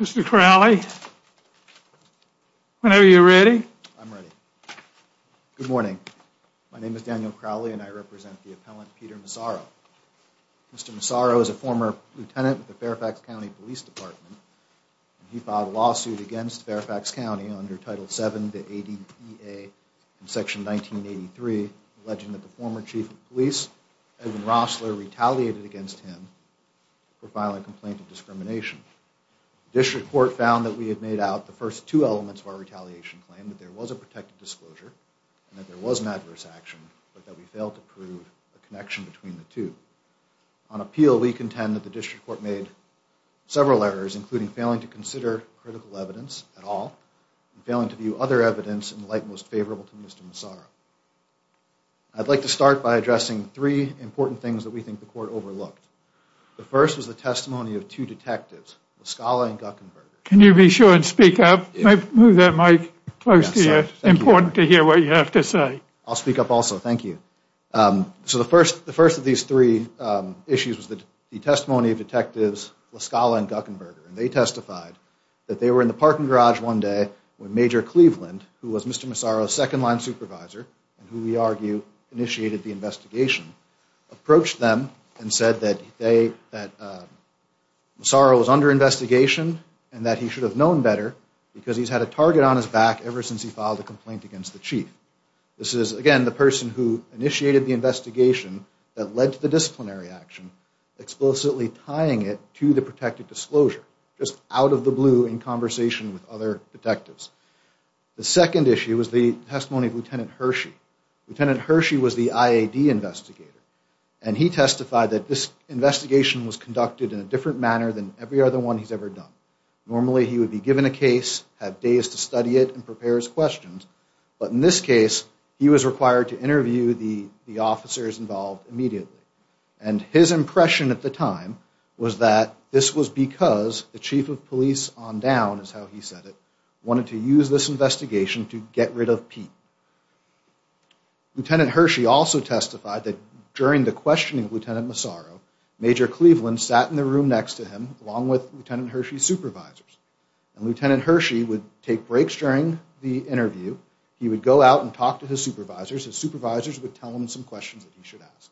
Mr. Crowley, when are you ready? I'm ready. Good morning. My name is Daniel Crowley and I represent the appellant Peter Massaro. Mr. Massaro is a former lieutenant with the Fairfax County Police Department. He filed a lawsuit against Fairfax County under Title VII of the ADA in Section 1983 alleging that the former chief of police, Edwin Rossler, retaliated against him for filing a complaint of discrimination. The district court found that we had made out the first two elements of our retaliation claim that there was a protected disclosure and that there was an adverse action but that we failed to prove a connection between the two. On appeal we contend that the district court made several errors including failing to consider critical evidence at all and failing to view other evidence in the light most favorable to Mr. Massaro. I'd like to start by addressing three important things that we think the court overlooked. The first was the testimony of two detectives, La Scala and Guckenberger. Can you be sure and speak up? Move that mic close to you. It's important to hear what you have to say. I'll speak up also, thank you. So the first of these three issues was the testimony of detectives La Scala and Guckenberger and they testified that they were in the parking garage one day when Major Cleveland, who was Mr. Massaro's second line supervisor and who we argue initiated the investigation, approached them and said that they that Massaro was under investigation and that he should have known better because he's had a target on his back ever since he filed a complaint against the chief. This is again the person who initiated the investigation that led to the disciplinary action explicitly tying it to the protected disclosure just out of the blue in conversation with other detectives. The second issue was the testimony of Lieutenant Hershey. Lieutenant Hershey was the IAD investigator and he testified that this investigation was conducted in a different manner than every other one he's ever done. Normally he would be given a case, have days to study it, and prepare his questions, but in this case he was required to interview the the officers involved immediately and his impression at the time was that this was because the chief of police on down is how he said it wanted to use this investigation to get rid of Pete. Lieutenant Hershey also testified that during the questioning of Lieutenant Massaro, Major Cleveland sat in the room next to him along with Lieutenant Hershey's supervisors and Lieutenant Hershey would take breaks during the interview. He would go out and talk to his supervisors. His supervisors would tell him some questions that he should ask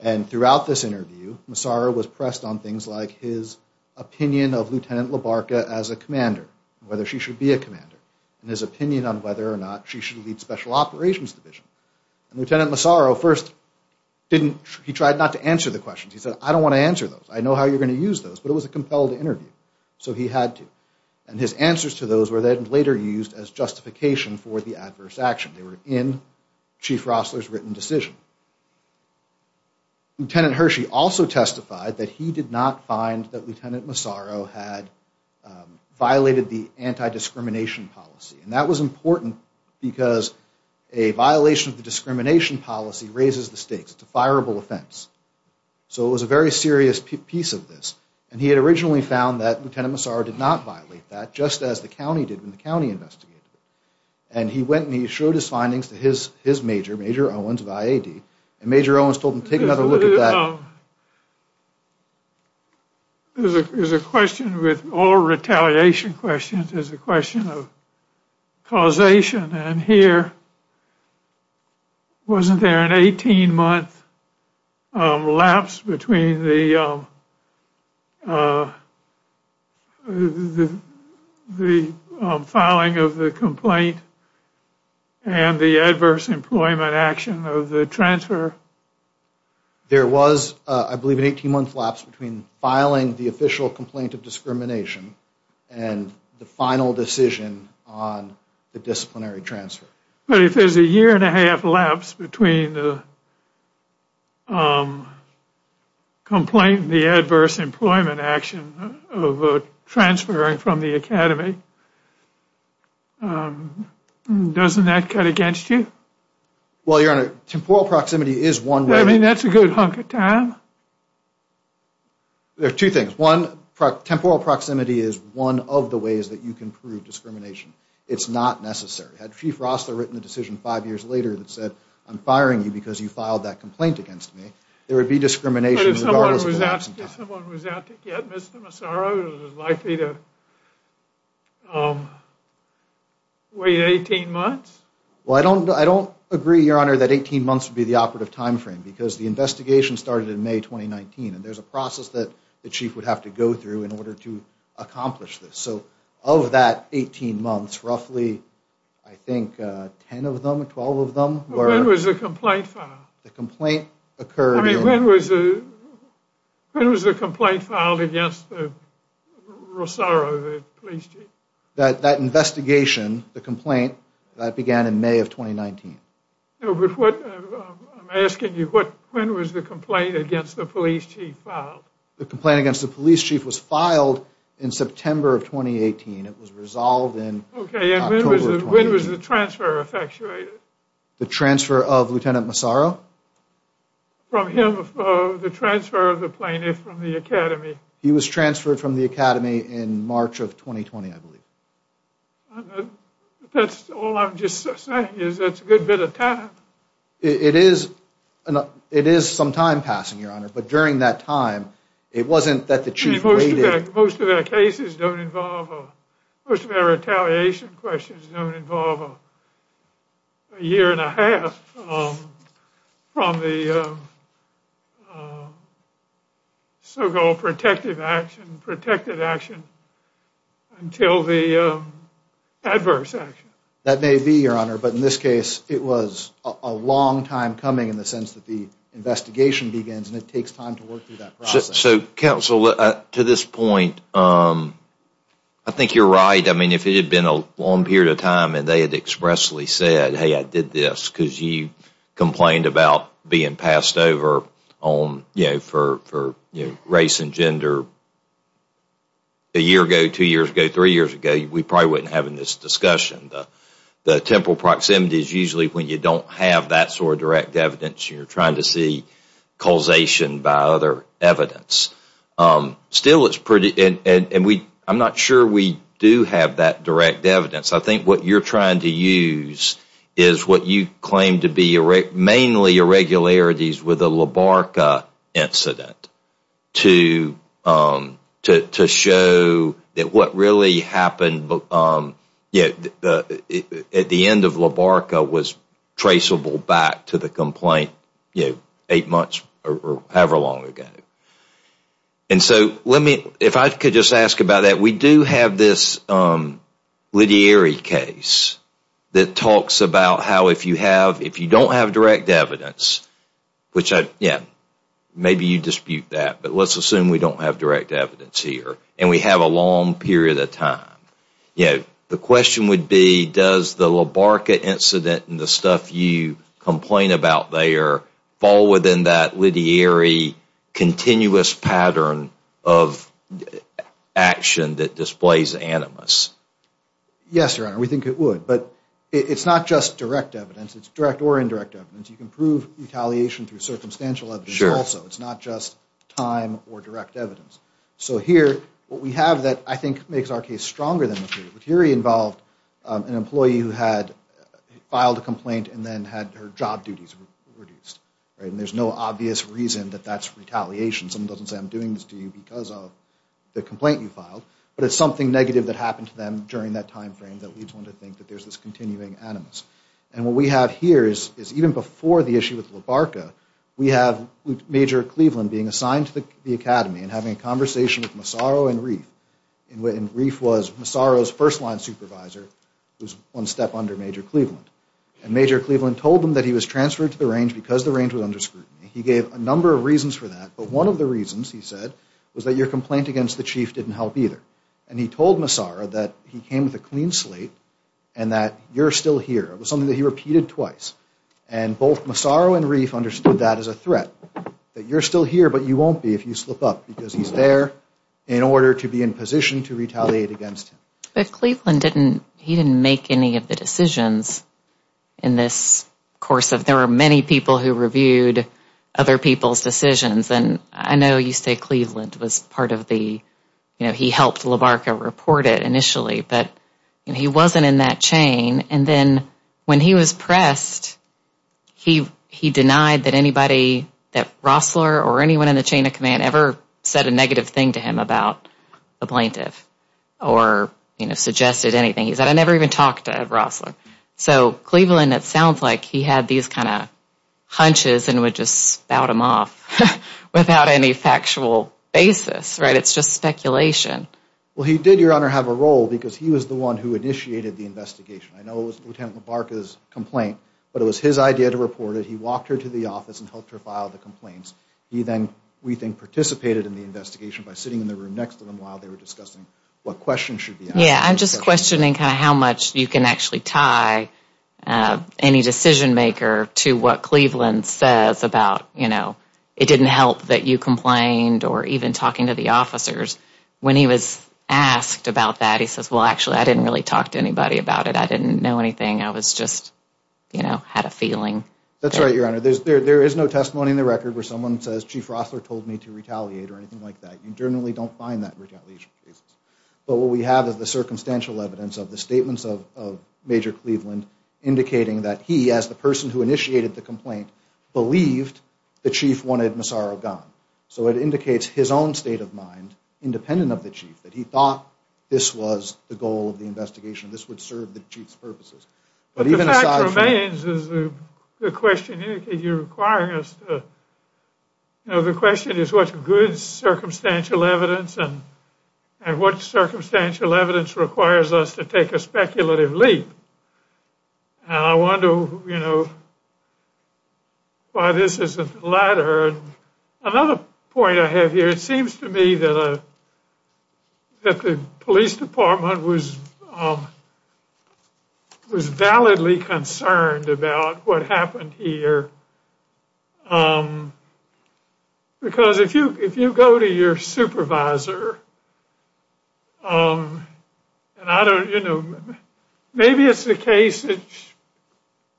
and throughout this interview, Massaro was pressed on things like his opinion of Lieutenant Labarca as a commander, whether she should be a commander, and his opinion on whether or not she should lead special operations division. And Lieutenant Massaro first didn't, he tried not to answer the questions. He said I don't want to answer those. I know how you're going to use those, but it was a compelled interview so he had to and his answers to those were then later used as justification for the adverse action. They were in Chief Rossler's written decision. Lieutenant Hershey also testified that he did not find that Lieutenant Massaro had violated the anti-discrimination policy and that was important because a violation of the discrimination policy raises the stakes. It's a fireable offense. So it was a very serious piece of this and he had originally found that Lieutenant Massaro did not violate that just as the county did when the county investigated it. And he went and he showed his findings to his his major, Major Owens of IAD, and Major Owens told him take another look at that. There's a question with all retaliation questions is a question of causation and here wasn't there an 18-month lapse between the filing of the complaint and the adverse employment action of the transfer? There was I believe an 18-month lapse between filing the official complaint of discrimination and the final decision on the disciplinary transfer. But if there's a year and a half lapse between the complaint and the adverse employment action of transferring from the academy, doesn't that cut against you? Well your honor, temporal proximity is one way. I mean that's a good hunk of time. There are two things. One, temporal proximity is one of the ways that you can prove discrimination. It's not necessary. Had Chief Rostler written a decision five years later that said I'm firing you because you filed that complaint against me, there would be discrimination. But if someone was out to get Mr. Massaro, it was likely to wait 18 months? Well I don't agree your honor that 18 months would be the operative time frame because the investigation started in May 2019 and there's a process that the chief would have to go through in order to accomplish this. So of that 18 months, roughly I think 10 of them, 12 of them. When was the complaint filed? The complaint occurred. I mean when was the complaint filed against the Rossaro, the police chief? That investigation, the complaint, that began in May of 2019. No but what I'm asking you, when was the complaint against the police chief filed? The complaint against the police chief was filed in September of 2018. It was the transfer of Lieutenant Massaro? From him, the transfer of the plaintiff from the academy. He was transferred from the academy in March of 2020 I believe. That's all I'm just saying is that's a good bit of time. It is some time passing your honor, but during that time it wasn't that the chief waited. Most of our cases don't involve, most of our retaliation questions don't involve a year and a half from the so-called protective action, protected action, until the adverse action. That may be your honor, but in this case it was a long time coming in the sense that the investigation begins and it I think you're right. I mean if it had been a long period of time and they had expressly said, hey I did this because you complained about being passed over on, you know, for race and gender a year ago, two years ago, three years ago, we probably wouldn't have this discussion. The temporal proximity is usually when you don't have that sort of direct evidence. You're trying to see causation by other evidence. Still it's pretty, and I'm not sure we do have that direct evidence. I think what you're trying to use is what you claim to be mainly irregularities with a LaBarca incident to show that what really happened at the end of LaBarca was traceable back to the complaint, you know, eight months or however long ago. And so let me, if I could just ask about that, we do have this literary case that talks about how if you have, if you don't have direct evidence, which I, yeah, maybe you dispute that, but let's assume we don't have direct evidence here and we have a long period of time, you know, the question would be does the LaBarca incident and the stuff you complain about there fall within that literary continuous pattern of action that displays animus? Yes, Your Honor, we think it would, but it's not just direct evidence. It's direct or indirect evidence. You can prove retaliation through circumstantial evidence also. It's not just time or direct evidence. So here what we have that I think makes our case stronger involved an employee who had filed a complaint and then had her job duties reduced, right? And there's no obvious reason that that's retaliation. Someone doesn't say I'm doing this to you because of the complaint you filed, but it's something negative that happened to them during that timeframe that leads one to think that there's this continuing animus. And what we have here is even before the issue with LaBarca, we have Major Cleveland being assigned to the academy and having a conversation with Massaro and Reif. And Reif was Massaro's first line supervisor who's one step under Major Cleveland. And Major Cleveland told him that he was transferred to the range because the range was under scrutiny. He gave a number of reasons for that, but one of the reasons, he said, was that your complaint against the chief didn't help either. And he told Massaro that he came with a clean slate and that you're still here. It was something that he repeated twice. And both Massaro and Reif understood that as a threat, that you're still here but you won't be if you slip up because he's there in order to be in position to retaliate against him. But Cleveland didn't, he didn't make any of the decisions in this course of, there were many people who reviewed other people's decisions and I know you say Cleveland was part of the, you know, he helped LaBarca report it initially, but he wasn't in that chain. And then when he was pressed, he denied that anybody, that Rossler or anything, did a negative thing to him about the plaintiff or, you know, suggested anything. He said, I never even talked to Rossler. So Cleveland, it sounds like he had these kind of hunches and would just spout them off without any factual basis, right? It's just speculation. Well, he did, Your Honor, have a role because he was the one who initiated the investigation. I know it was Lieutenant LaBarca's complaint, but it was his idea to report it. He walked her to the office and helped her file the complaints. He then, we think, participated in the investigation by sitting in the room next to them while they were discussing what questions should be asked. Yeah, I'm just questioning kind of how much you can actually tie any decision maker to what Cleveland says about, you know, it didn't help that you complained or even talking to the officers. When he was asked about that, he says, well, actually, I didn't really talk to anybody about it. I didn't know anything. I was just, you know, had a feeling. That's right, Your Honor. There is no testimony in the record where someone says, Chief Rossler told me to retaliate or anything like that. You generally don't find that in retaliation cases. But what we have is the circumstantial evidence of the statements of Major Cleveland indicating that he, as the person who initiated the complaint, believed the chief wanted Massaro gone. So it indicates his own state of mind, independent of the chief, that he thought this was the goal of the investigation. This would serve the chief's purposes. But the fact remains is the question you're requiring us to, you know, the question is, what's good circumstantial evidence and what circumstantial evidence requires us to take a speculative leap? And I wonder, you know, why this isn't the latter. Another point I have here, it seems to me that the police department was validly concerned about what happened here. Because if you go to your supervisor, and I don't, you know, maybe it's the case that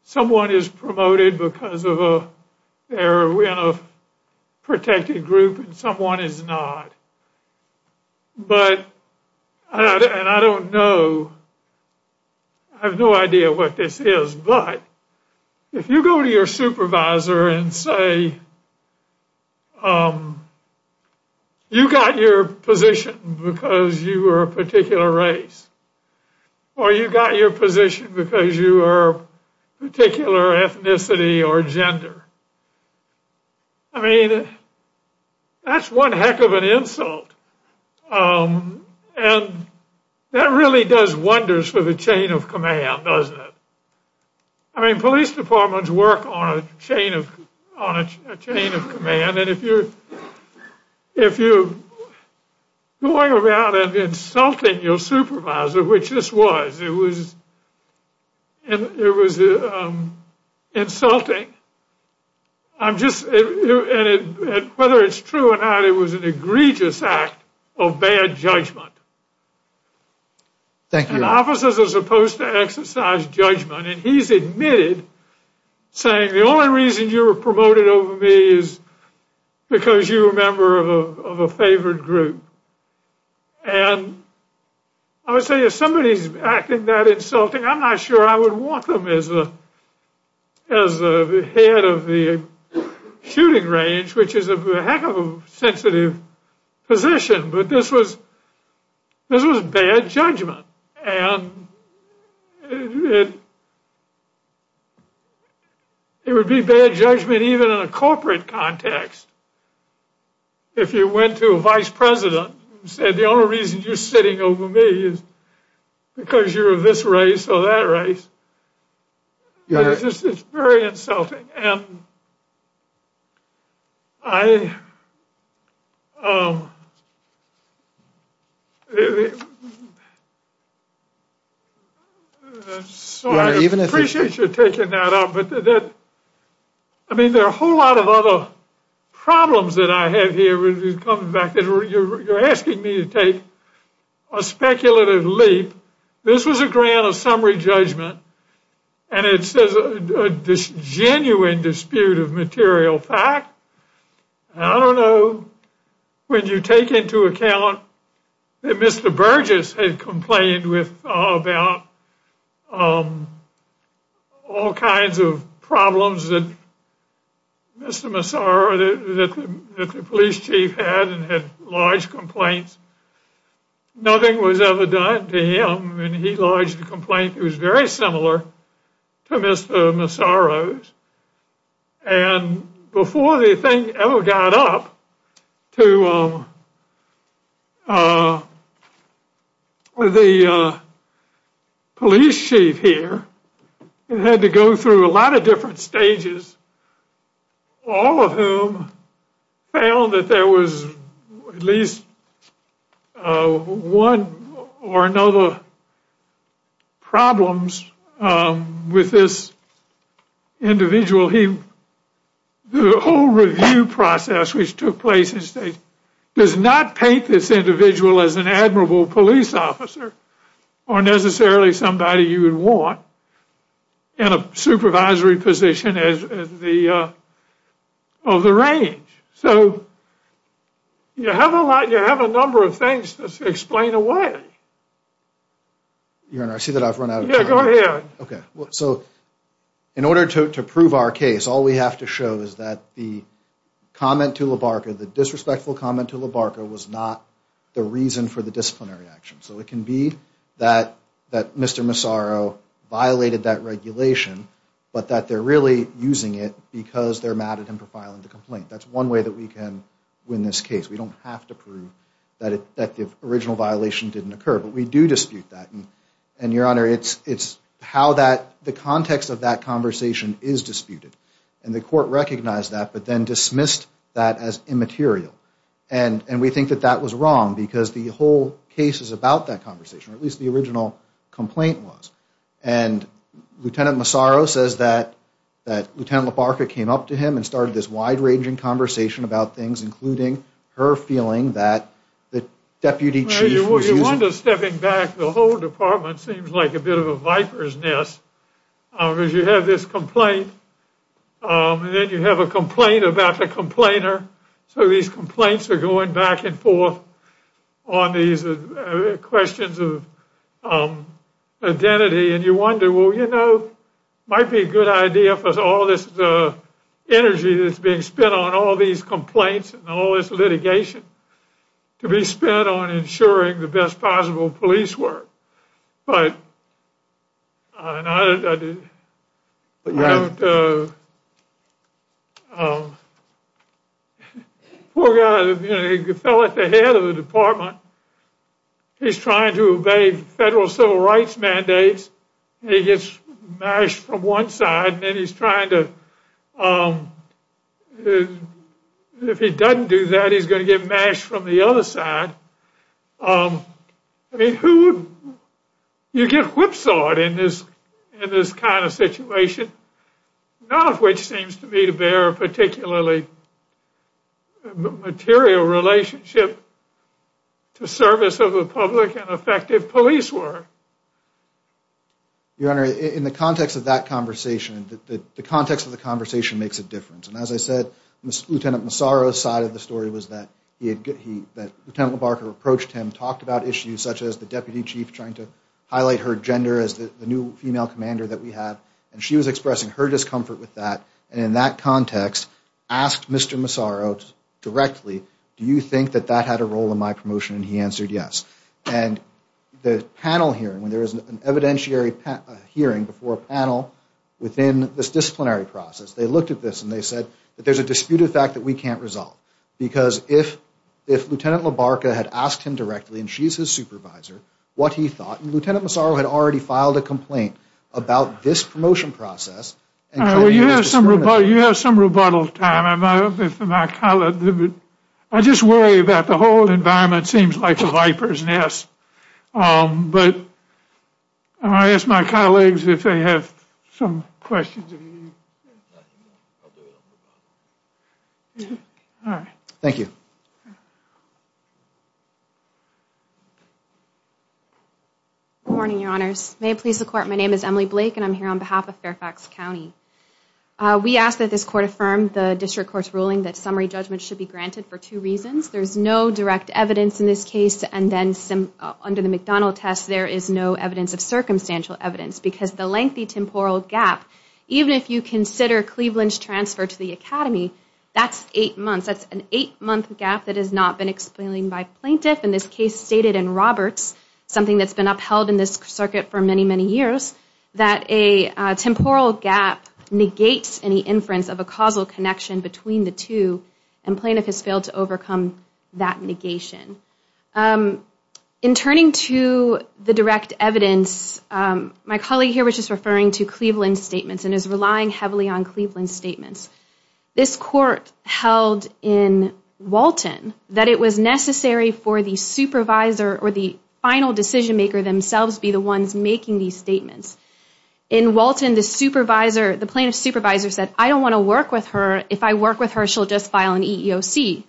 someone is promoted because they're in a protected group and someone is not. But, and I don't know, I have no idea what this is, but if you go to your supervisor and say, you got your position because you were a particular race, or you got your position because you are particular ethnicity or gender. I mean, that's one heck of an insult. And that really does wonders for the chain of command, doesn't it? I mean, police departments work on a chain of, on a chain of command, and if you're, if you're going around and insulting your supervisor, which this was, it was, it was insulting. I'm just, whether it's true or not, it was an egregious act of bad judgment. Thank you. And officers are supposed to exercise judgment, and he's admitted saying the only reason you were promoted over me is because you were a member of a favored group. And I would say if somebody's acting that insulting, I'm not sure I would want them as a, as the head of the shooting range, which is a heck of a sensitive position, but this was, this was bad judgment. And it would be bad judgment even in a corporate context. If you went to a vice president and said the only reason you're sitting over me is because you're of this race or that race, it's just, it's very insulting. And I, so I appreciate you taking that up, but that, I mean, there are a whole lot of other problems that I have here when it comes back that you're, you're asking me to take a speculative leap. This was a grant of summary judgment, and it says a genuine dispute of material fact. I don't know when you take into account that Mr. Burgess had complained with, that the police chief had and had lodged complaints. Nothing was ever done to him, and he lodged a complaint that was very similar to Mr. Massaro's. And before the thing ever got up to the police chief here, it had to go through a lot of different stages, all of whom found that there was at least one or another problems with this individual. He, the whole review process which took place in the state does not paint this individual as an admirable police officer or necessarily somebody you would want in a supervisory position as the, of the range. So you have a lot, you have a number of things to explain away. Your Honor, I see that I've run out of time. Yeah, go ahead. Okay, so in order to prove our case, all we have to show is that the comment to Labarca, the disrespectful comment to Labarca was not the reason for the disciplinary action. So it can be that, that Mr. Massaro violated that regulation, but that they're really using it because they're mad at him for filing the complaint. That's one way that we can win this case. We don't have to prove that the original violation didn't occur, but we do dispute that. And Your Honor, it's how that, the context of that conversation is disputed. And the court recognized that, but then dismissed that as immaterial. And we think that that was wrong because the whole case is about that conversation, or at least the original complaint was. And Lieutenant Massaro says that, that Lieutenant Labarca came up to him and started this wide-ranging conversation about things, including her feeling that the Deputy Chief was using... Well, you wonder, stepping back, the whole department seems like a bit of a viper's nest. Because you have this complaint, and then you have a complaint about the complainer. So these complaints are going back and forth on these questions of identity. And you wonder, well, you know, it might be a good idea for all this energy that's being spent on all these complaints and all this litigation to be spent on ensuring the best possible police work. But... I don't... Poor guy, you know, he fell at the head of the department. He's trying to obey federal civil rights mandates. He gets mashed from one side, and then he's trying to... If he doesn't do that, he's going to get mashed from the other side. I mean, who would... You get whipsawed in this kind of situation, none of which seems to me to bear a particularly material relationship to service of a public and effective police work. Your Honor, in the context of that conversation, the context of the conversation makes a difference. As I said, Lieutenant Massaro's side of the story was that Lieutenant LeBarker approached him, talked about issues such as the deputy chief trying to highlight her gender as the new female commander that we have. And she was expressing her discomfort with that. And in that context, asked Mr. Massaro directly, do you think that that had a role in my promotion? And he answered yes. And the panel hearing, when there is an evidentiary hearing before a panel within this that there's a disputed fact that we can't resolve. Because if Lieutenant LeBarker had asked him directly, and she's his supervisor, what he thought, and Lieutenant Massaro had already filed a complaint about this promotion process... You have some rebuttal time. I just worry about the whole environment seems like a viper's nest. But I ask my colleagues if they have some questions. All right. Thank you. Good morning, Your Honors. May it please the Court, my name is Emily Blake and I'm here on behalf of Fairfax County. We ask that this Court affirm the District Court's ruling that summary judgment should be granted for two reasons. There's no direct evidence in this case, and then under the McDonald test, there is no evidence of circumstantial evidence. Because the lengthy transfer to the academy, that's eight months. That's an eight-month gap that has not been explained by plaintiff. And this case stated in Roberts, something that's been upheld in this circuit for many, many years, that a temporal gap negates any inference of a causal connection between the two. And plaintiff has failed to overcome that negation. In turning to the direct evidence, my colleague here was just referring to Cleveland's statements and is relying heavily on Cleveland's statements. This Court held in Walton that it was necessary for the supervisor or the final decision maker themselves be the ones making these statements. In Walton, the supervisor, the plaintiff's supervisor said, I don't want to work with her. If I work with her, she'll just file an EEOC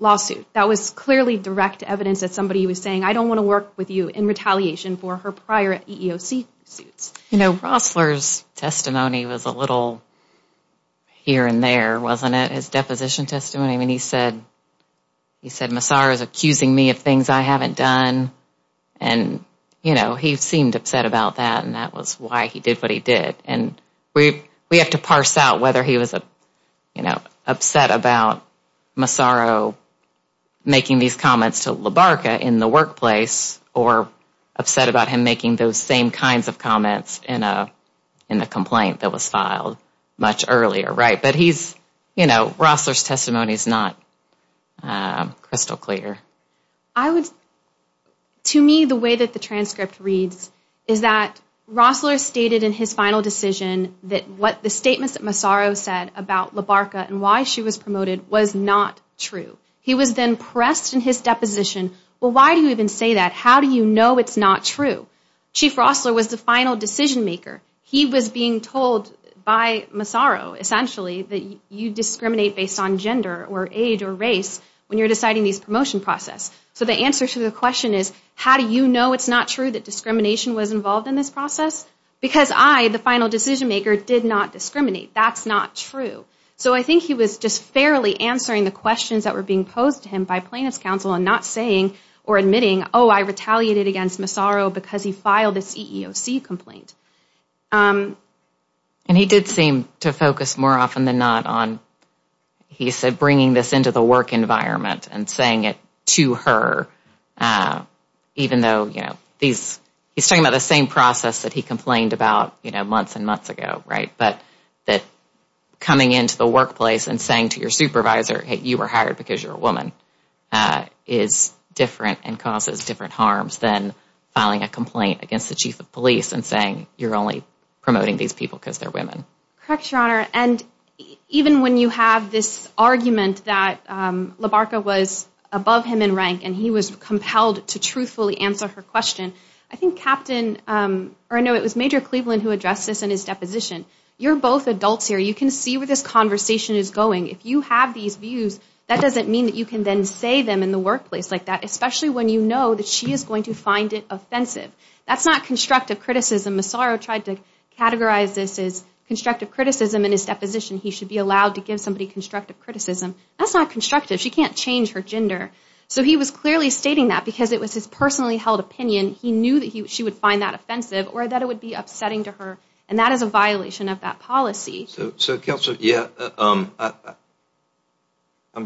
lawsuit. That was clearly direct evidence that somebody was saying, I don't want to work with you in retaliation for her prior EEOC suits. You know, Rossler's testimony was a little here and there, wasn't it? His deposition testimony. He said, Massaro is accusing me of things I haven't done. And, you know, he seemed upset about that. And that was why he did what he did. And we have to parse out whether he was upset about Massaro making these comments to Labarca in the workplace or upset about him making those same kinds of comments in a complaint that was filed much earlier, right? But he's, you know, Rossler's testimony is not crystal clear. I would, to me, the way that the transcript reads is that Rossler stated in his final decision that what the statements that Massaro said about Labarca and why she was promoted was not true. He was then pressed in his deposition, well, why do you even say that? How do you know it's not true? Chief Rossler was the final decision maker. He was being told by Massaro, essentially, that you discriminate based on gender or age or race when you're deciding this promotion process. So the answer to the question is, how do you know it's not true that discrimination was involved in this process? Because I, the final decision maker, did not discriminate. That's not true. So I think he was just fairly answering the questions that were being posed to him by plaintiff's counsel and not saying or admitting, oh, I retaliated against Massaro because he filed this EEOC complaint. And he did seem to focus more often than not on, he said, bringing this into the work environment and saying it to her, even though, you know, these, he's talking about the same process that he complained about, you know, months and months ago, right? But that coming into the workplace and saying to your supervisor, hey, you were hired because you're a woman, is different and causes different harms than filing a complaint against the chief of police and saying you're only promoting these people because they're women. Correct, Your Honor. And even when you have this argument that Labarca was above him in rank and he was compelled to truthfully answer her question, I think Captain, or no, it was Major Cleveland who addressed this in his deposition. You're both adults here. You can see where this conversation is going. If you have these views, that doesn't mean that you can then say them in the workplace like that, especially when you know that she is going to find it offensive. That's not constructive criticism. Massaro tried to categorize this as constructive criticism in his deposition. He should be allowed to give somebody constructive criticism. That's not constructive. She can't change her gender. So he was clearly stating that because it was his personally held opinion. He knew that she would find that offensive or that it would be upsetting to her and that is a violation of that policy. So Counselor, yeah, I'm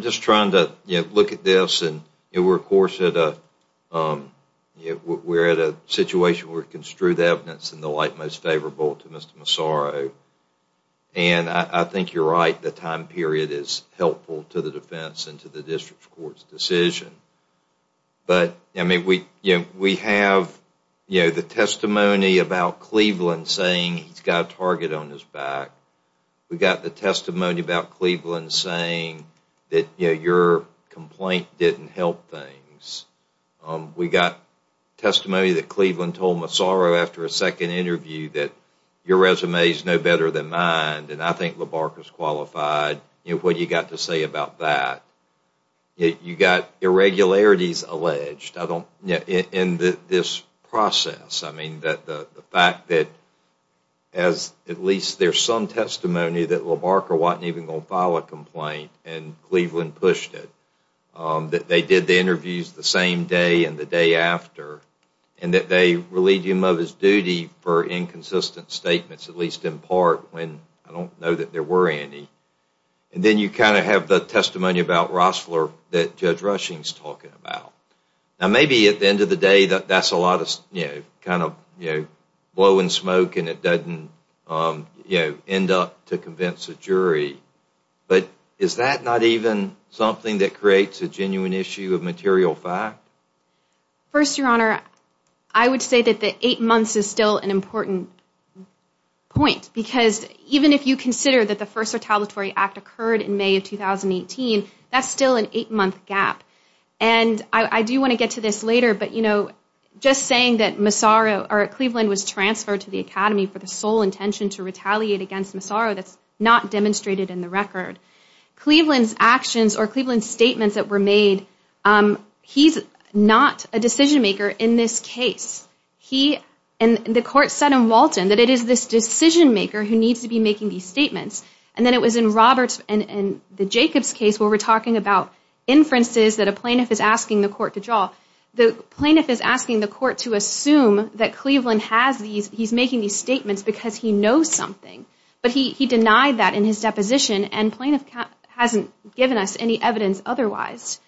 just trying to look at this and we're of course at a situation where construed evidence in the light most favorable to Mr. Massaro. And I think you're right. The time period is helpful to the defense and to the district court's decision. But we have the testimony about Cleveland saying he's got a target on his back. We've got the testimony about Cleveland saying that your complaint didn't help things. We've got testimony that Cleveland told Massaro after a second interview that your resume is no better than mine and I think LaBarca is qualified. What have you got to say about that? You've got irregularities alleged in this process. I mean the fact that as at least there's some testimony that LaBarca wasn't even going to file a complaint and Cleveland pushed it. That they did the interviews the same day and the day after and that they relieved him of his duty for inconsistent statements at least in part when I don't know there were any. And then you kind of have the testimony about Rossler that Judge Rushing's talking about. Now maybe at the end of the day that's a lot of you know kind of you know blowing smoke and it doesn't you know end up to convince a jury. But is that not even something that creates a genuine issue of material fact? First your honor, I would say that the eight that the first retaliatory act occurred in May of 2018 that's still an eight-month gap. And I do want to get to this later but you know just saying that Massaro or Cleveland was transferred to the academy for the sole intention to retaliate against Massaro that's not demonstrated in the record. Cleveland's actions or Cleveland's statements that were made, he's not a decision maker in this case. He and the court said in Walton that it is this decision maker who needs to be making these statements. And then it was in Roberts and in the Jacobs case where we're talking about inferences that a plaintiff is asking the court to draw. The plaintiff is asking the court to assume that Cleveland has these he's making these statements because he knows something but he he denied that in his deposition and plaintiff hasn't given us any evidence otherwise.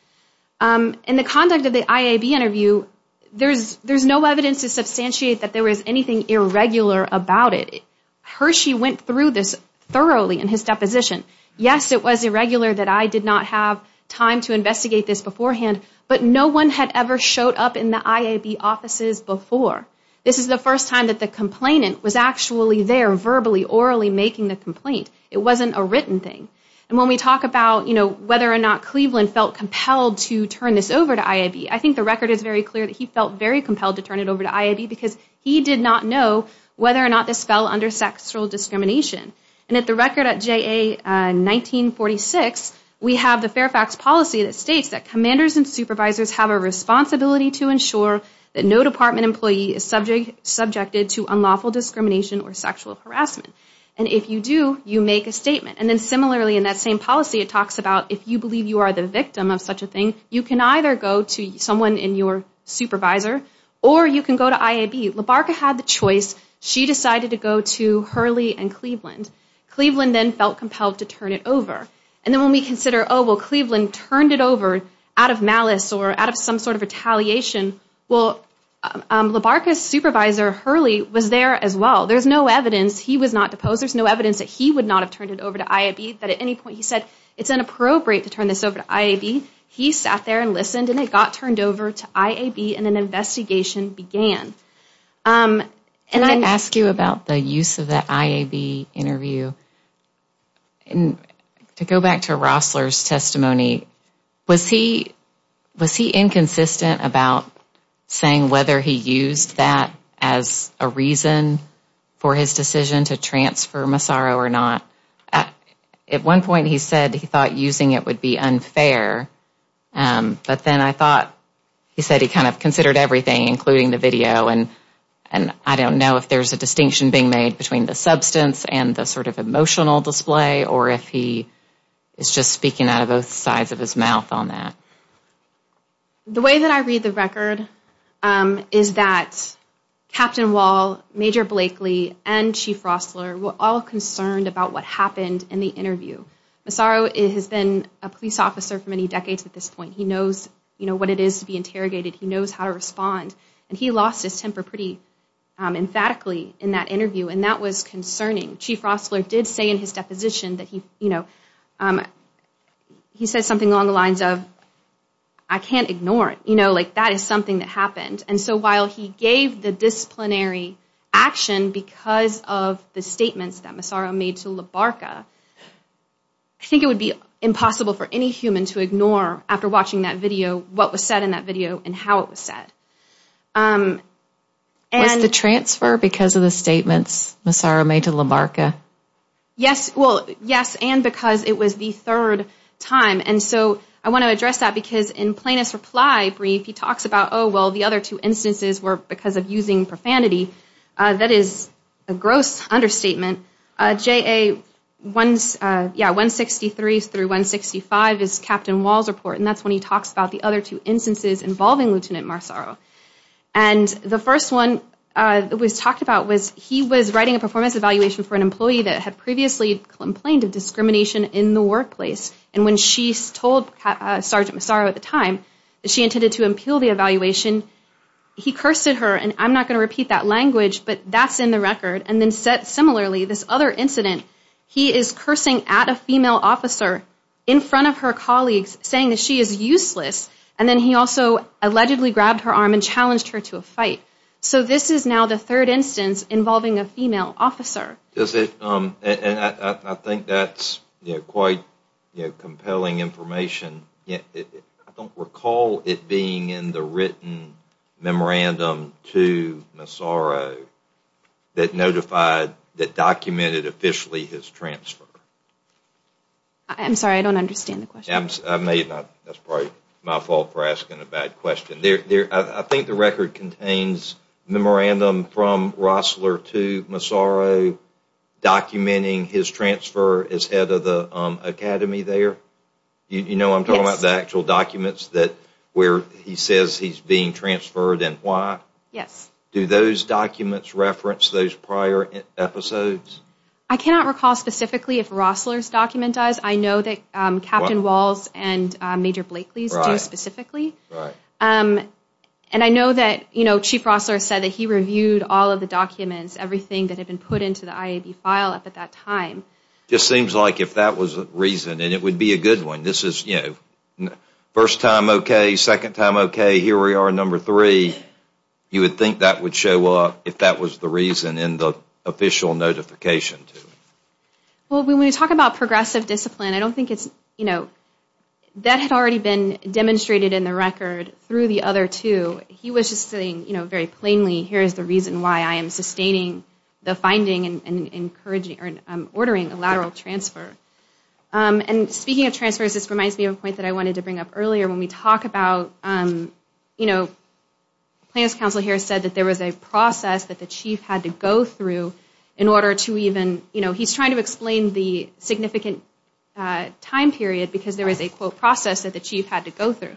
In the conduct of the IAB interview there's there's no evidence to substantiate that there is anything irregular about it. Hershey went through this thoroughly in his deposition. Yes it was irregular that I did not have time to investigate this beforehand but no one had ever showed up in the IAB offices before. This is the first time that the complainant was actually there verbally orally making the complaint. It wasn't a written thing and when we talk about you know whether or not Cleveland felt compelled to turn this over to IAB I think the record is clear that he felt very compelled to turn it over to IAB because he did not know whether or not this fell under sexual discrimination. And at the record at JA 1946 we have the Fairfax policy that states that commanders and supervisors have a responsibility to ensure that no department employee is subject subjected to unlawful discrimination or sexual harassment. And if you do you make a statement. And then similarly in that same policy it talks about if you believe you are the victim of such a thing you can either go to someone in your supervisor or you can go to IAB. Labarca had the choice. She decided to go to Hurley and Cleveland. Cleveland then felt compelled to turn it over. And then when we consider oh well Cleveland turned it over out of malice or out of some sort of retaliation. Well Labarca's supervisor Hurley was there as well. There's no evidence he was not deposed. There's no evidence that he would not have turned it over to IAB that at any point he it's inappropriate to turn this over to IAB. He sat there and listened and it got turned over to IAB and an investigation began. Can I ask you about the use of the IAB interview? And to go back to Rossler's testimony was he was he inconsistent about saying whether he used that as a reason for his decision to transfer Massaro or not? At one point he said he thought using it would be unfair but then I thought he said he kind of considered everything including the video and and I don't know if there's a distinction being made between the substance and the sort of emotional display or if he is just speaking out of both sides of his mouth on that. The way that I read the record is that Captain Wall, Major Blakely and Chief Rossler were all concerned about what happened in the interview. Massaro has been a police officer for many decades at this point. He knows you know what it is to be interrogated. He knows how to respond and he lost his temper pretty emphatically in that interview and that was concerning. Chief Rossler did say in his deposition that he you know he said something along the lines of I can't ignore it you know like that is something that happened and so while he gave the disciplinary action because of the statements that Massaro made to LaBarca I think it would be impossible for any human to ignore after watching that video what was said in that video and how it was said. Was the transfer because of the statements Massaro made to LaBarca? Yes well yes and because it was the third time and so I want to address that because in Plaintiff's reply brief he talks about oh well the other two instances were because of using profanity. That is a gross understatement. JA 163 through 165 is Captain Wall's report and that's when he talks about the other two instances involving Lieutenant Massaro and the first one was talked about was he was writing a performance evaluation for an employee that had previously complained of discrimination in the workplace and when she told Sergeant Massaro at the time that she intended to impel the evaluation he cursed at her and I'm not going to repeat that language but that's in the record and then similarly this other incident he is cursing at a female officer in front of her colleagues saying that she is useless and then he also allegedly grabbed her arm and challenged her to a fight so this is now the third instance involving a female officer. Is it and I think that's you know quite you know compelling information yet I don't recall it being in the written memorandum to Massaro that notified that documented officially his transfer. I'm sorry I don't understand the question. I may not That's probably my fault for asking a bad question. I think the record contains memorandum from Rossler to Massaro documenting his transfer as head of the academy there. You know I'm talking about the actual documents that where he says he's being transferred and why. Yes. Do those documents reference those prior episodes? I cannot recall specifically if Rossler's document does. I know that Captain Walls and Major Blakely's do specifically and I know that you know Chief Rossler said that he reviewed all of the documents everything that had been put into the IAB file up at that time. Just seems like if that was a reason and it would be a good one this is you know first time okay second time okay here we are number three you would think that would show up if that was the reason in the official notification. Well when we talk about progressive discipline I don't think it's you know that had already been demonstrated in the record through the other two he was just saying you know very plainly here is the reason why I am sustaining the finding and encouraging or ordering a lateral transfer. And speaking of transfers this reminds me of a point that I wanted to bring up earlier when we talk about you know Plans Council here said that there was a process that the chief had to go through in order to even you know he's trying to explain the significant time period because there is a quote process that the chief had to go through.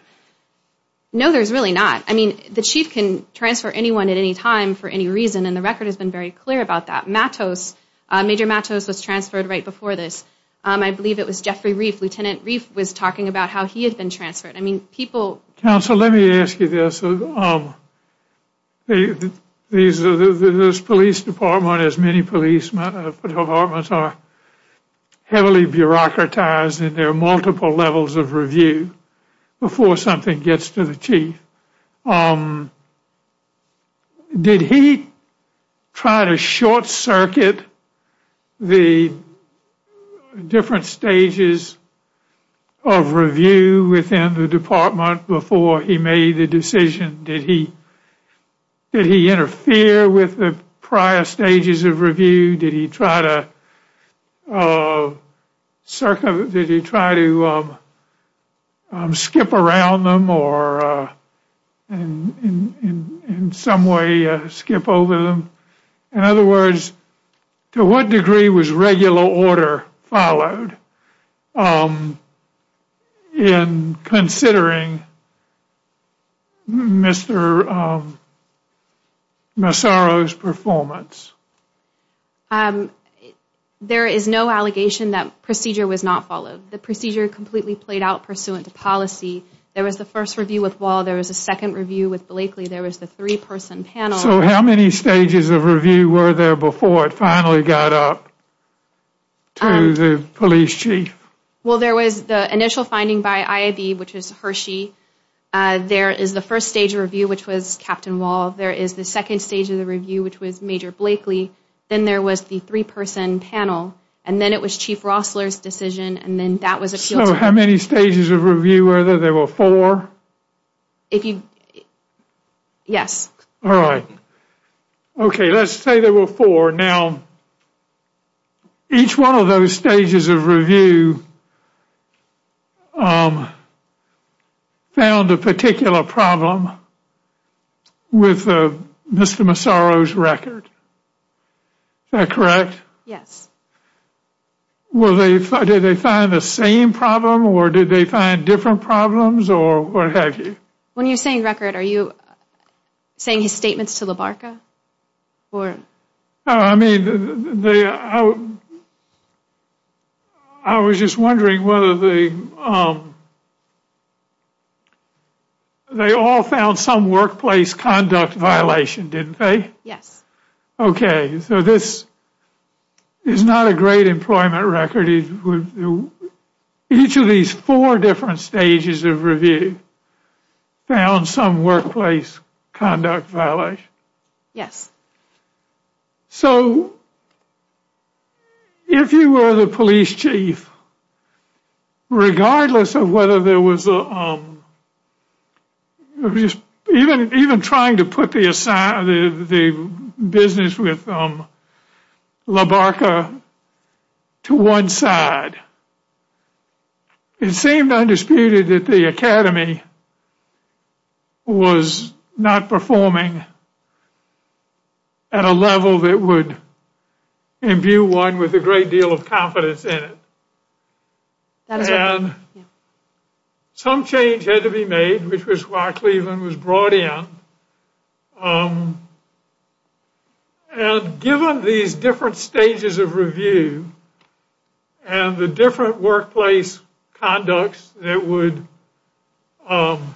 No there's really not. I mean the chief can transfer anyone at any time for any reason and the record has been very clear about that. Matos, Major Matos was transferred right before this. I believe it was Jeffrey Reif. Lieutenant Reif was talking about how he had been transferred. I mean people. Counsel let me ask you this. These are the police department as many police departments are heavily bureaucratized and there are multiple levels of review before something gets to the chief. Did he try to short circuit the different stages of review within the department before he made the decision? Did he interfere with the prior stages of review? Did he try to circumvent? Did he try to skip around them or in some way skip over them? In other words to what degree was regular order followed in considering Mr. Massaro's performance? There is no allegation that procedure was not followed. The procedure completely played out pursuant to policy. There was the first review with Wall. There was a second review with Blakely. There was the three-person panel. So how many stages of review were there before it finally got up to the police chief? Well there was the initial finding by IAB which was Hershey. There is the first stage of review which was Captain Wall. There is the second stage of the review which was Major Blakely. Then there was the three-person panel. And then it was Chief Rossler's decision. And then that was it. So how many stages of review were there? There were four? Yes. All right. Okay let's say there were four. Now each one of those stages of review found a particular problem with Mr. Massaro's record. Is that correct? Yes. Well did they find the same problem or did they find different problems or what have you? When you're saying record are you saying his statements to LABARCA? I was just wondering whether they all found some workplace conduct violation, didn't they? Yes. Okay so this is not a great employment record. Each of these four different stages of review found some workplace conduct violation. Yes. So if you were the police chief, regardless of whether there was even trying to put the business with LABARCA to one side, it seemed undisputed that the academy was not performing at a level that would imbue one with a great deal of confidence in it. And some change had to be made which was why Cleveland was brought in. And given these different stages of review and the different workplace conducts that were found,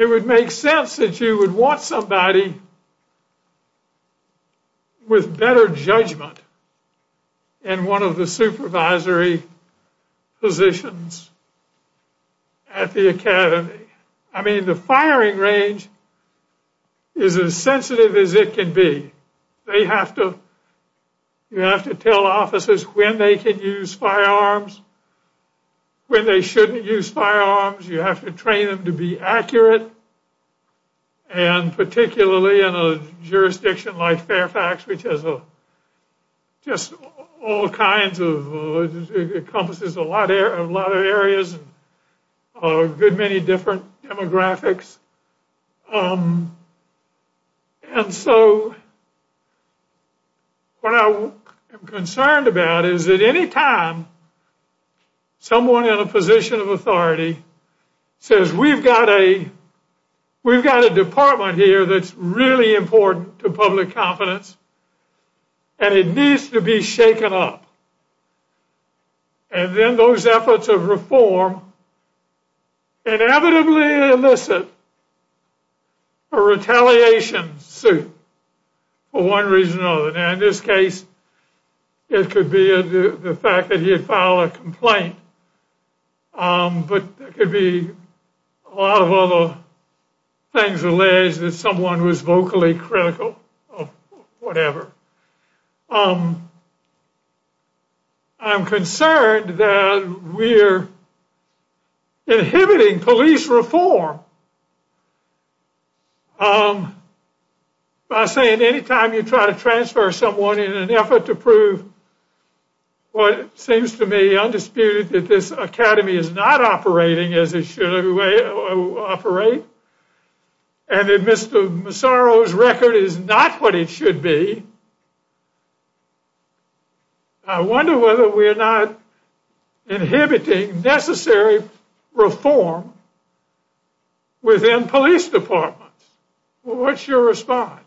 it would make sense that you would want somebody with better judgment in one of the supervisory positions at the academy. I mean the firing range is as sensitive as it can be. They have to, you have to tell officers when they can use firearms, when they shouldn't use firearms. You have to train them to be accurate and particularly in a jurisdiction like Fairfax which has just all kinds of, encompasses a lot of areas, a good many different demographics. And so what I am concerned about is that any time someone in a position of authority says we've got a, we've got a department here that's really important to public confidence and it needs to be shaken up and then those efforts of reform inevitably elicit a retaliation suit for one reason or another. Now in this case it could be the fact that he had filed a complaint, but there could be a lot of other things alleged that someone was vocally critical of whatever. I'm concerned that we're inhibiting police reform by saying anytime you try to transfer someone in an effort to prove what seems to me undisputed that this academy is not operating as it should operate and that Mr. Massaro's record is not what it should be. I wonder whether we're not inhibiting necessary reform within police departments. What's your response?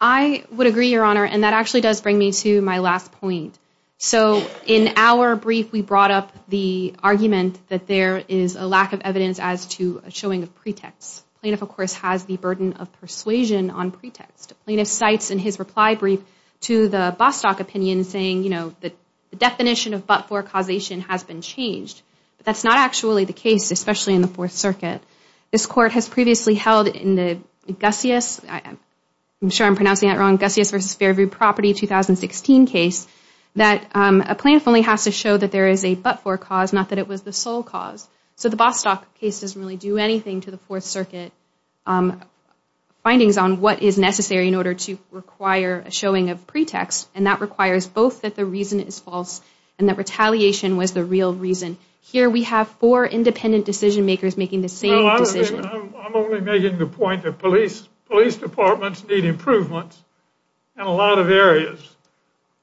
I would agree your honor and that actually does bring me to my last point. So in our brief we brought up the argument that there is a lack of evidence as to a showing of pretext. Plaintiff of course has the burden of persuasion on pretext. Plaintiff cites in his reply brief to the Bostock opinion saying you know the definition of but-for causation has been changed, but that's not actually the case, especially in the Fourth Circuit. This court has previously held in the Gusius, I'm sure I'm pronouncing that wrong, Gusius Property 2016 case that a plaintiff only has to show that there is a but-for cause, not that it was the sole cause. So the Bostock case doesn't really do anything to the Fourth Circuit findings on what is necessary in order to require a showing of pretext and that requires both that the reason is false and that retaliation was the real reason. Here we have four independent decision makers making the same decision. I'm only making the point that police departments need improvements in a lot of areas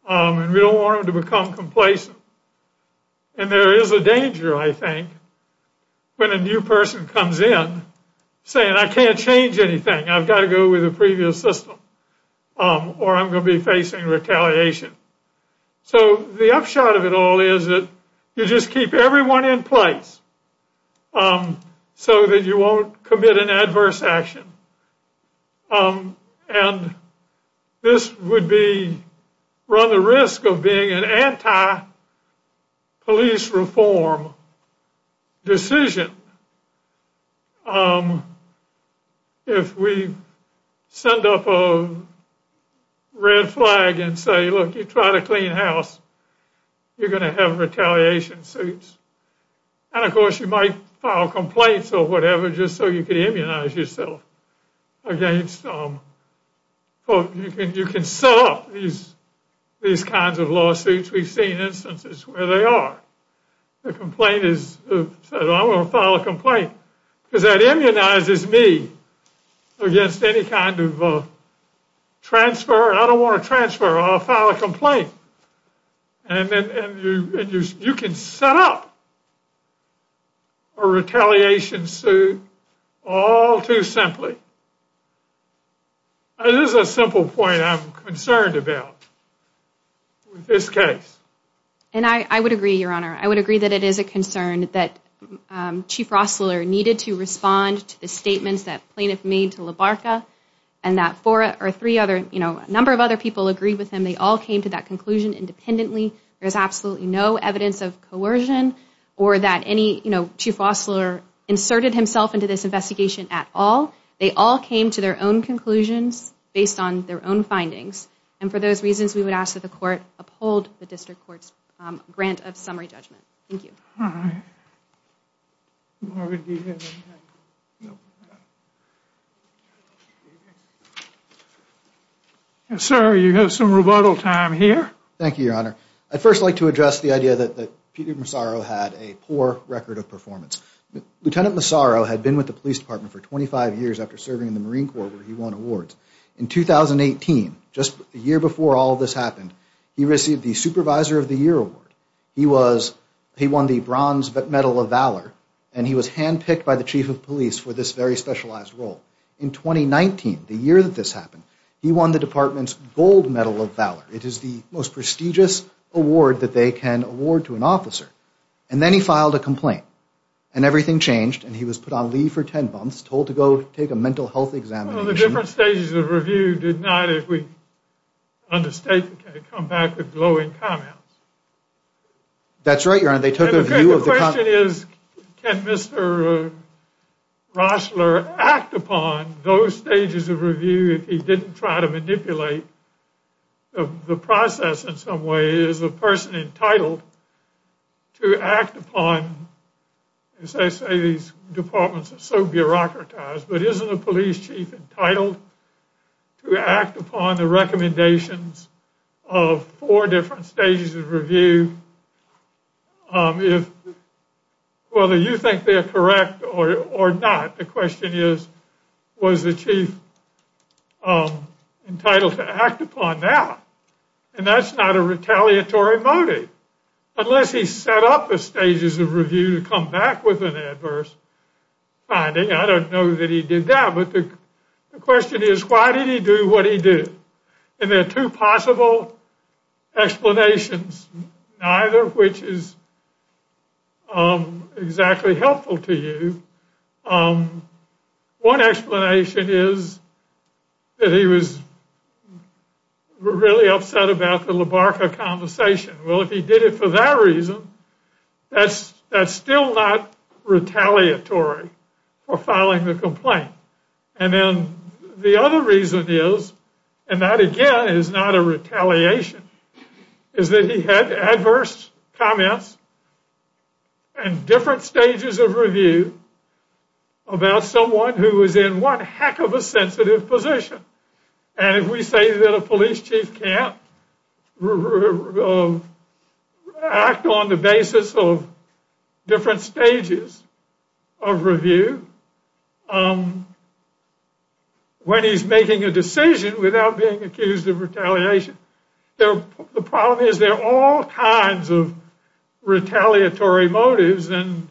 and we don't want them to become complacent. And there is a danger I think when a new person comes in saying I can't change anything, I've got to go with the previous system or I'm going to be facing retaliation. So the upshot of it all is that you just keep everyone in place so that you won't commit an adverse action. And this would be run the risk of being an anti- police reform decision. If we send up a red flag and say look you try to clean house you're going to have retaliation suits. And of course you might file complaints or whatever just so you can immunize yourself against, you can set up these kinds of lawsuits. We've seen instances where they are. The complainant says I'm going to file a complaint because that immunizes me against any kind of transfer. I don't want to transfer, I'll file a complaint. And then you can set up a retaliation suit all too simply. It is a simple point I'm concerned about with this case. And I would agree your honor. I would agree that it is a concern that Chief Rostler needed to respond to the statements that plaintiff made to LaBarca and that four or three other, you know, a number of other people agreed with him. They all came to that conclusion independently. There's absolutely no evidence of coercion or that any, you know, Chief Rostler inserted himself into this investigation at all. They all came to their own conclusions based on their own findings. And for those reasons we would ask that the court uphold the district court's grant of summary judgment. Thank you. Yes sir, you have some rebuttal time here. Thank you your honor. I'd first like to address the idea that that Peter Massaro had a poor record of performance. Lieutenant Massaro had been with the police department for 25 years after serving in the Marine Corps where he won awards. In 2018, just a year before all this happened, he received the supervisor of the year award. He was, he won the bronze medal of valor and he was handpicked by the chief of police for this very specialized role. In 2019, the year that this happened, he won the department's gold medal of valor. It is the most prestigious award that they can award to an officer. And then he filed a complaint and everything changed and he was put on leave for 10 months, told to go take a mental health examination. The different stages of review did not, if we understate, come back with glowing comments. That's right your honor, they took a view of the... The question is, can Mr. Roessler act upon those stages of review if he didn't try to manipulate the process in some way? Is the person entitled to act upon, as I say these departments are so bureaucratized, but isn't the police chief entitled to act upon the recommendations of four different stages of review? If, whether you think they're correct or not, the question is, was the chief entitled to act upon that? And that's not a retaliatory motive, unless he set up the stages of review to come back with an adverse finding. I don't know that he did that, but the question is, why did he do what he did? And there are two possible explanations, neither of which is exactly helpful to you. One explanation is that he was really upset about the LaBarca conversation. Well, if he did it for that reason, that's still not retaliatory for filing the complaint. And then the other reason is, and that again is not a retaliation, is that he had adverse comments and different stages of review about someone who was in one heck of a sensitive position. And if we say that a police chief can't act on the basis of different stages of review when he's making a decision without being accused of retaliation, the problem is there are all kinds of retaliatory motives and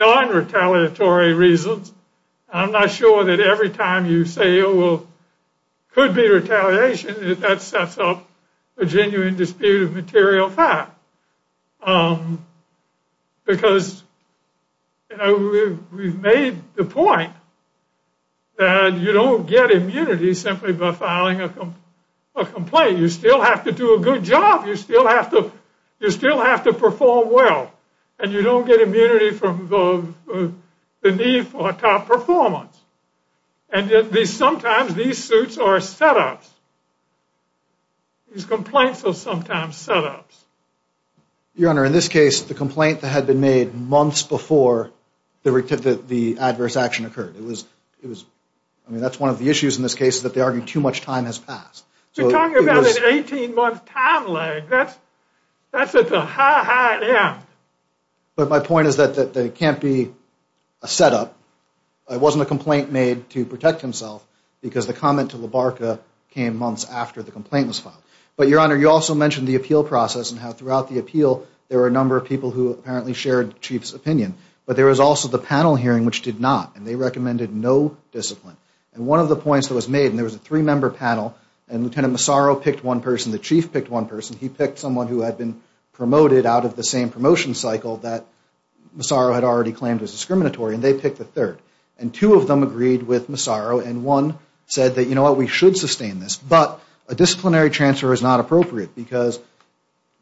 non-retaliatory reasons. I'm not sure that every time you say, oh, well, it could be retaliation, that sets up a genuine dispute of material fact. Because, you know, we've made the point that you don't get immunity. You still have to do a good job. You still have to perform well. And you don't get immunity from the need for a top performance. And sometimes these suits are setups. These complaints are sometimes setups. Your Honor, in this case, the complaint that had been made months before the adverse action occurred, it was, I mean, that's one of the timelines. That's at the high, high end. But my point is that it can't be a setup. It wasn't a complaint made to protect himself because the comment to LaBarca came months after the complaint was filed. But, Your Honor, you also mentioned the appeal process and how throughout the appeal, there were a number of people who apparently shared the chief's opinion. But there was also the panel hearing, which did not, and they recommended no discipline. And one of the points that was made, and there was a three-member panel, and Lieutenant Massaro picked one person, the chief picked one person. He picked someone who had been promoted out of the same promotion cycle that Massaro had already claimed was discriminatory, and they picked the third. And two of them agreed with Massaro, and one said that, you know what, we should sustain this. But a disciplinary transfer is not appropriate because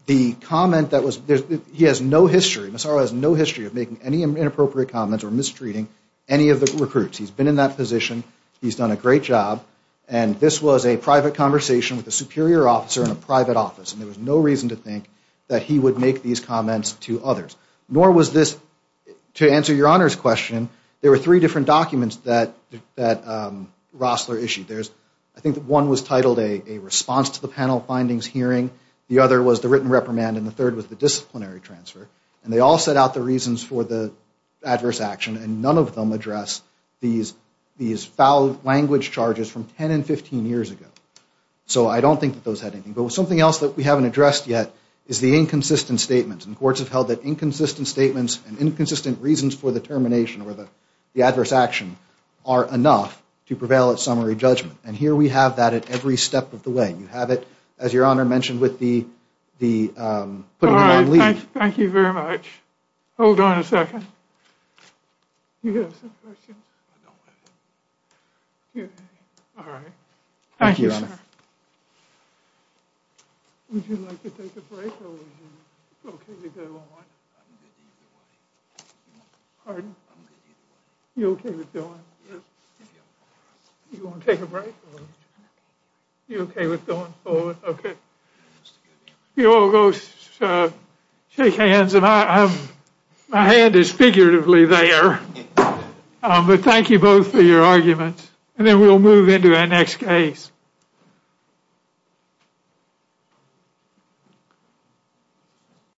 the comment that was, he has no history, Massaro has no history of making any inappropriate comments or mistreating any of the recruits. He's been in that position. He's done a great job. And this was a private conversation with a superior officer in a private office, and there was no reason to think that he would make these comments to others. Nor was this, to answer Your Honor's question, there were three different documents that Rossler issued. I think one was titled a response to the panel findings hearing. The other was the written reprimand, and the third was the disciplinary transfer. And they all set out the reasons for the adverse action, and none of them address these foul language charges from 10 and 15 years ago. So I don't think that those had anything. But something else that we haven't addressed yet is the inconsistent statements. And courts have held that inconsistent statements and inconsistent reasons for the termination or the adverse action are enough to prevail at summary judgment. And here we have that at every step of the way. You have it, as Your Honor mentioned, with the putting them on leave. Thank you very much. Hold on a second. You have some questions? All right. Thank you, Your Honor. Would you like to take a break, or would you like to go on? Pardon? You okay with going? You want to take a break? You okay with going forward? Okay. If you all go shake hands. My hand is figuratively there. But thank you both for your arguments. And then we'll move into our next case.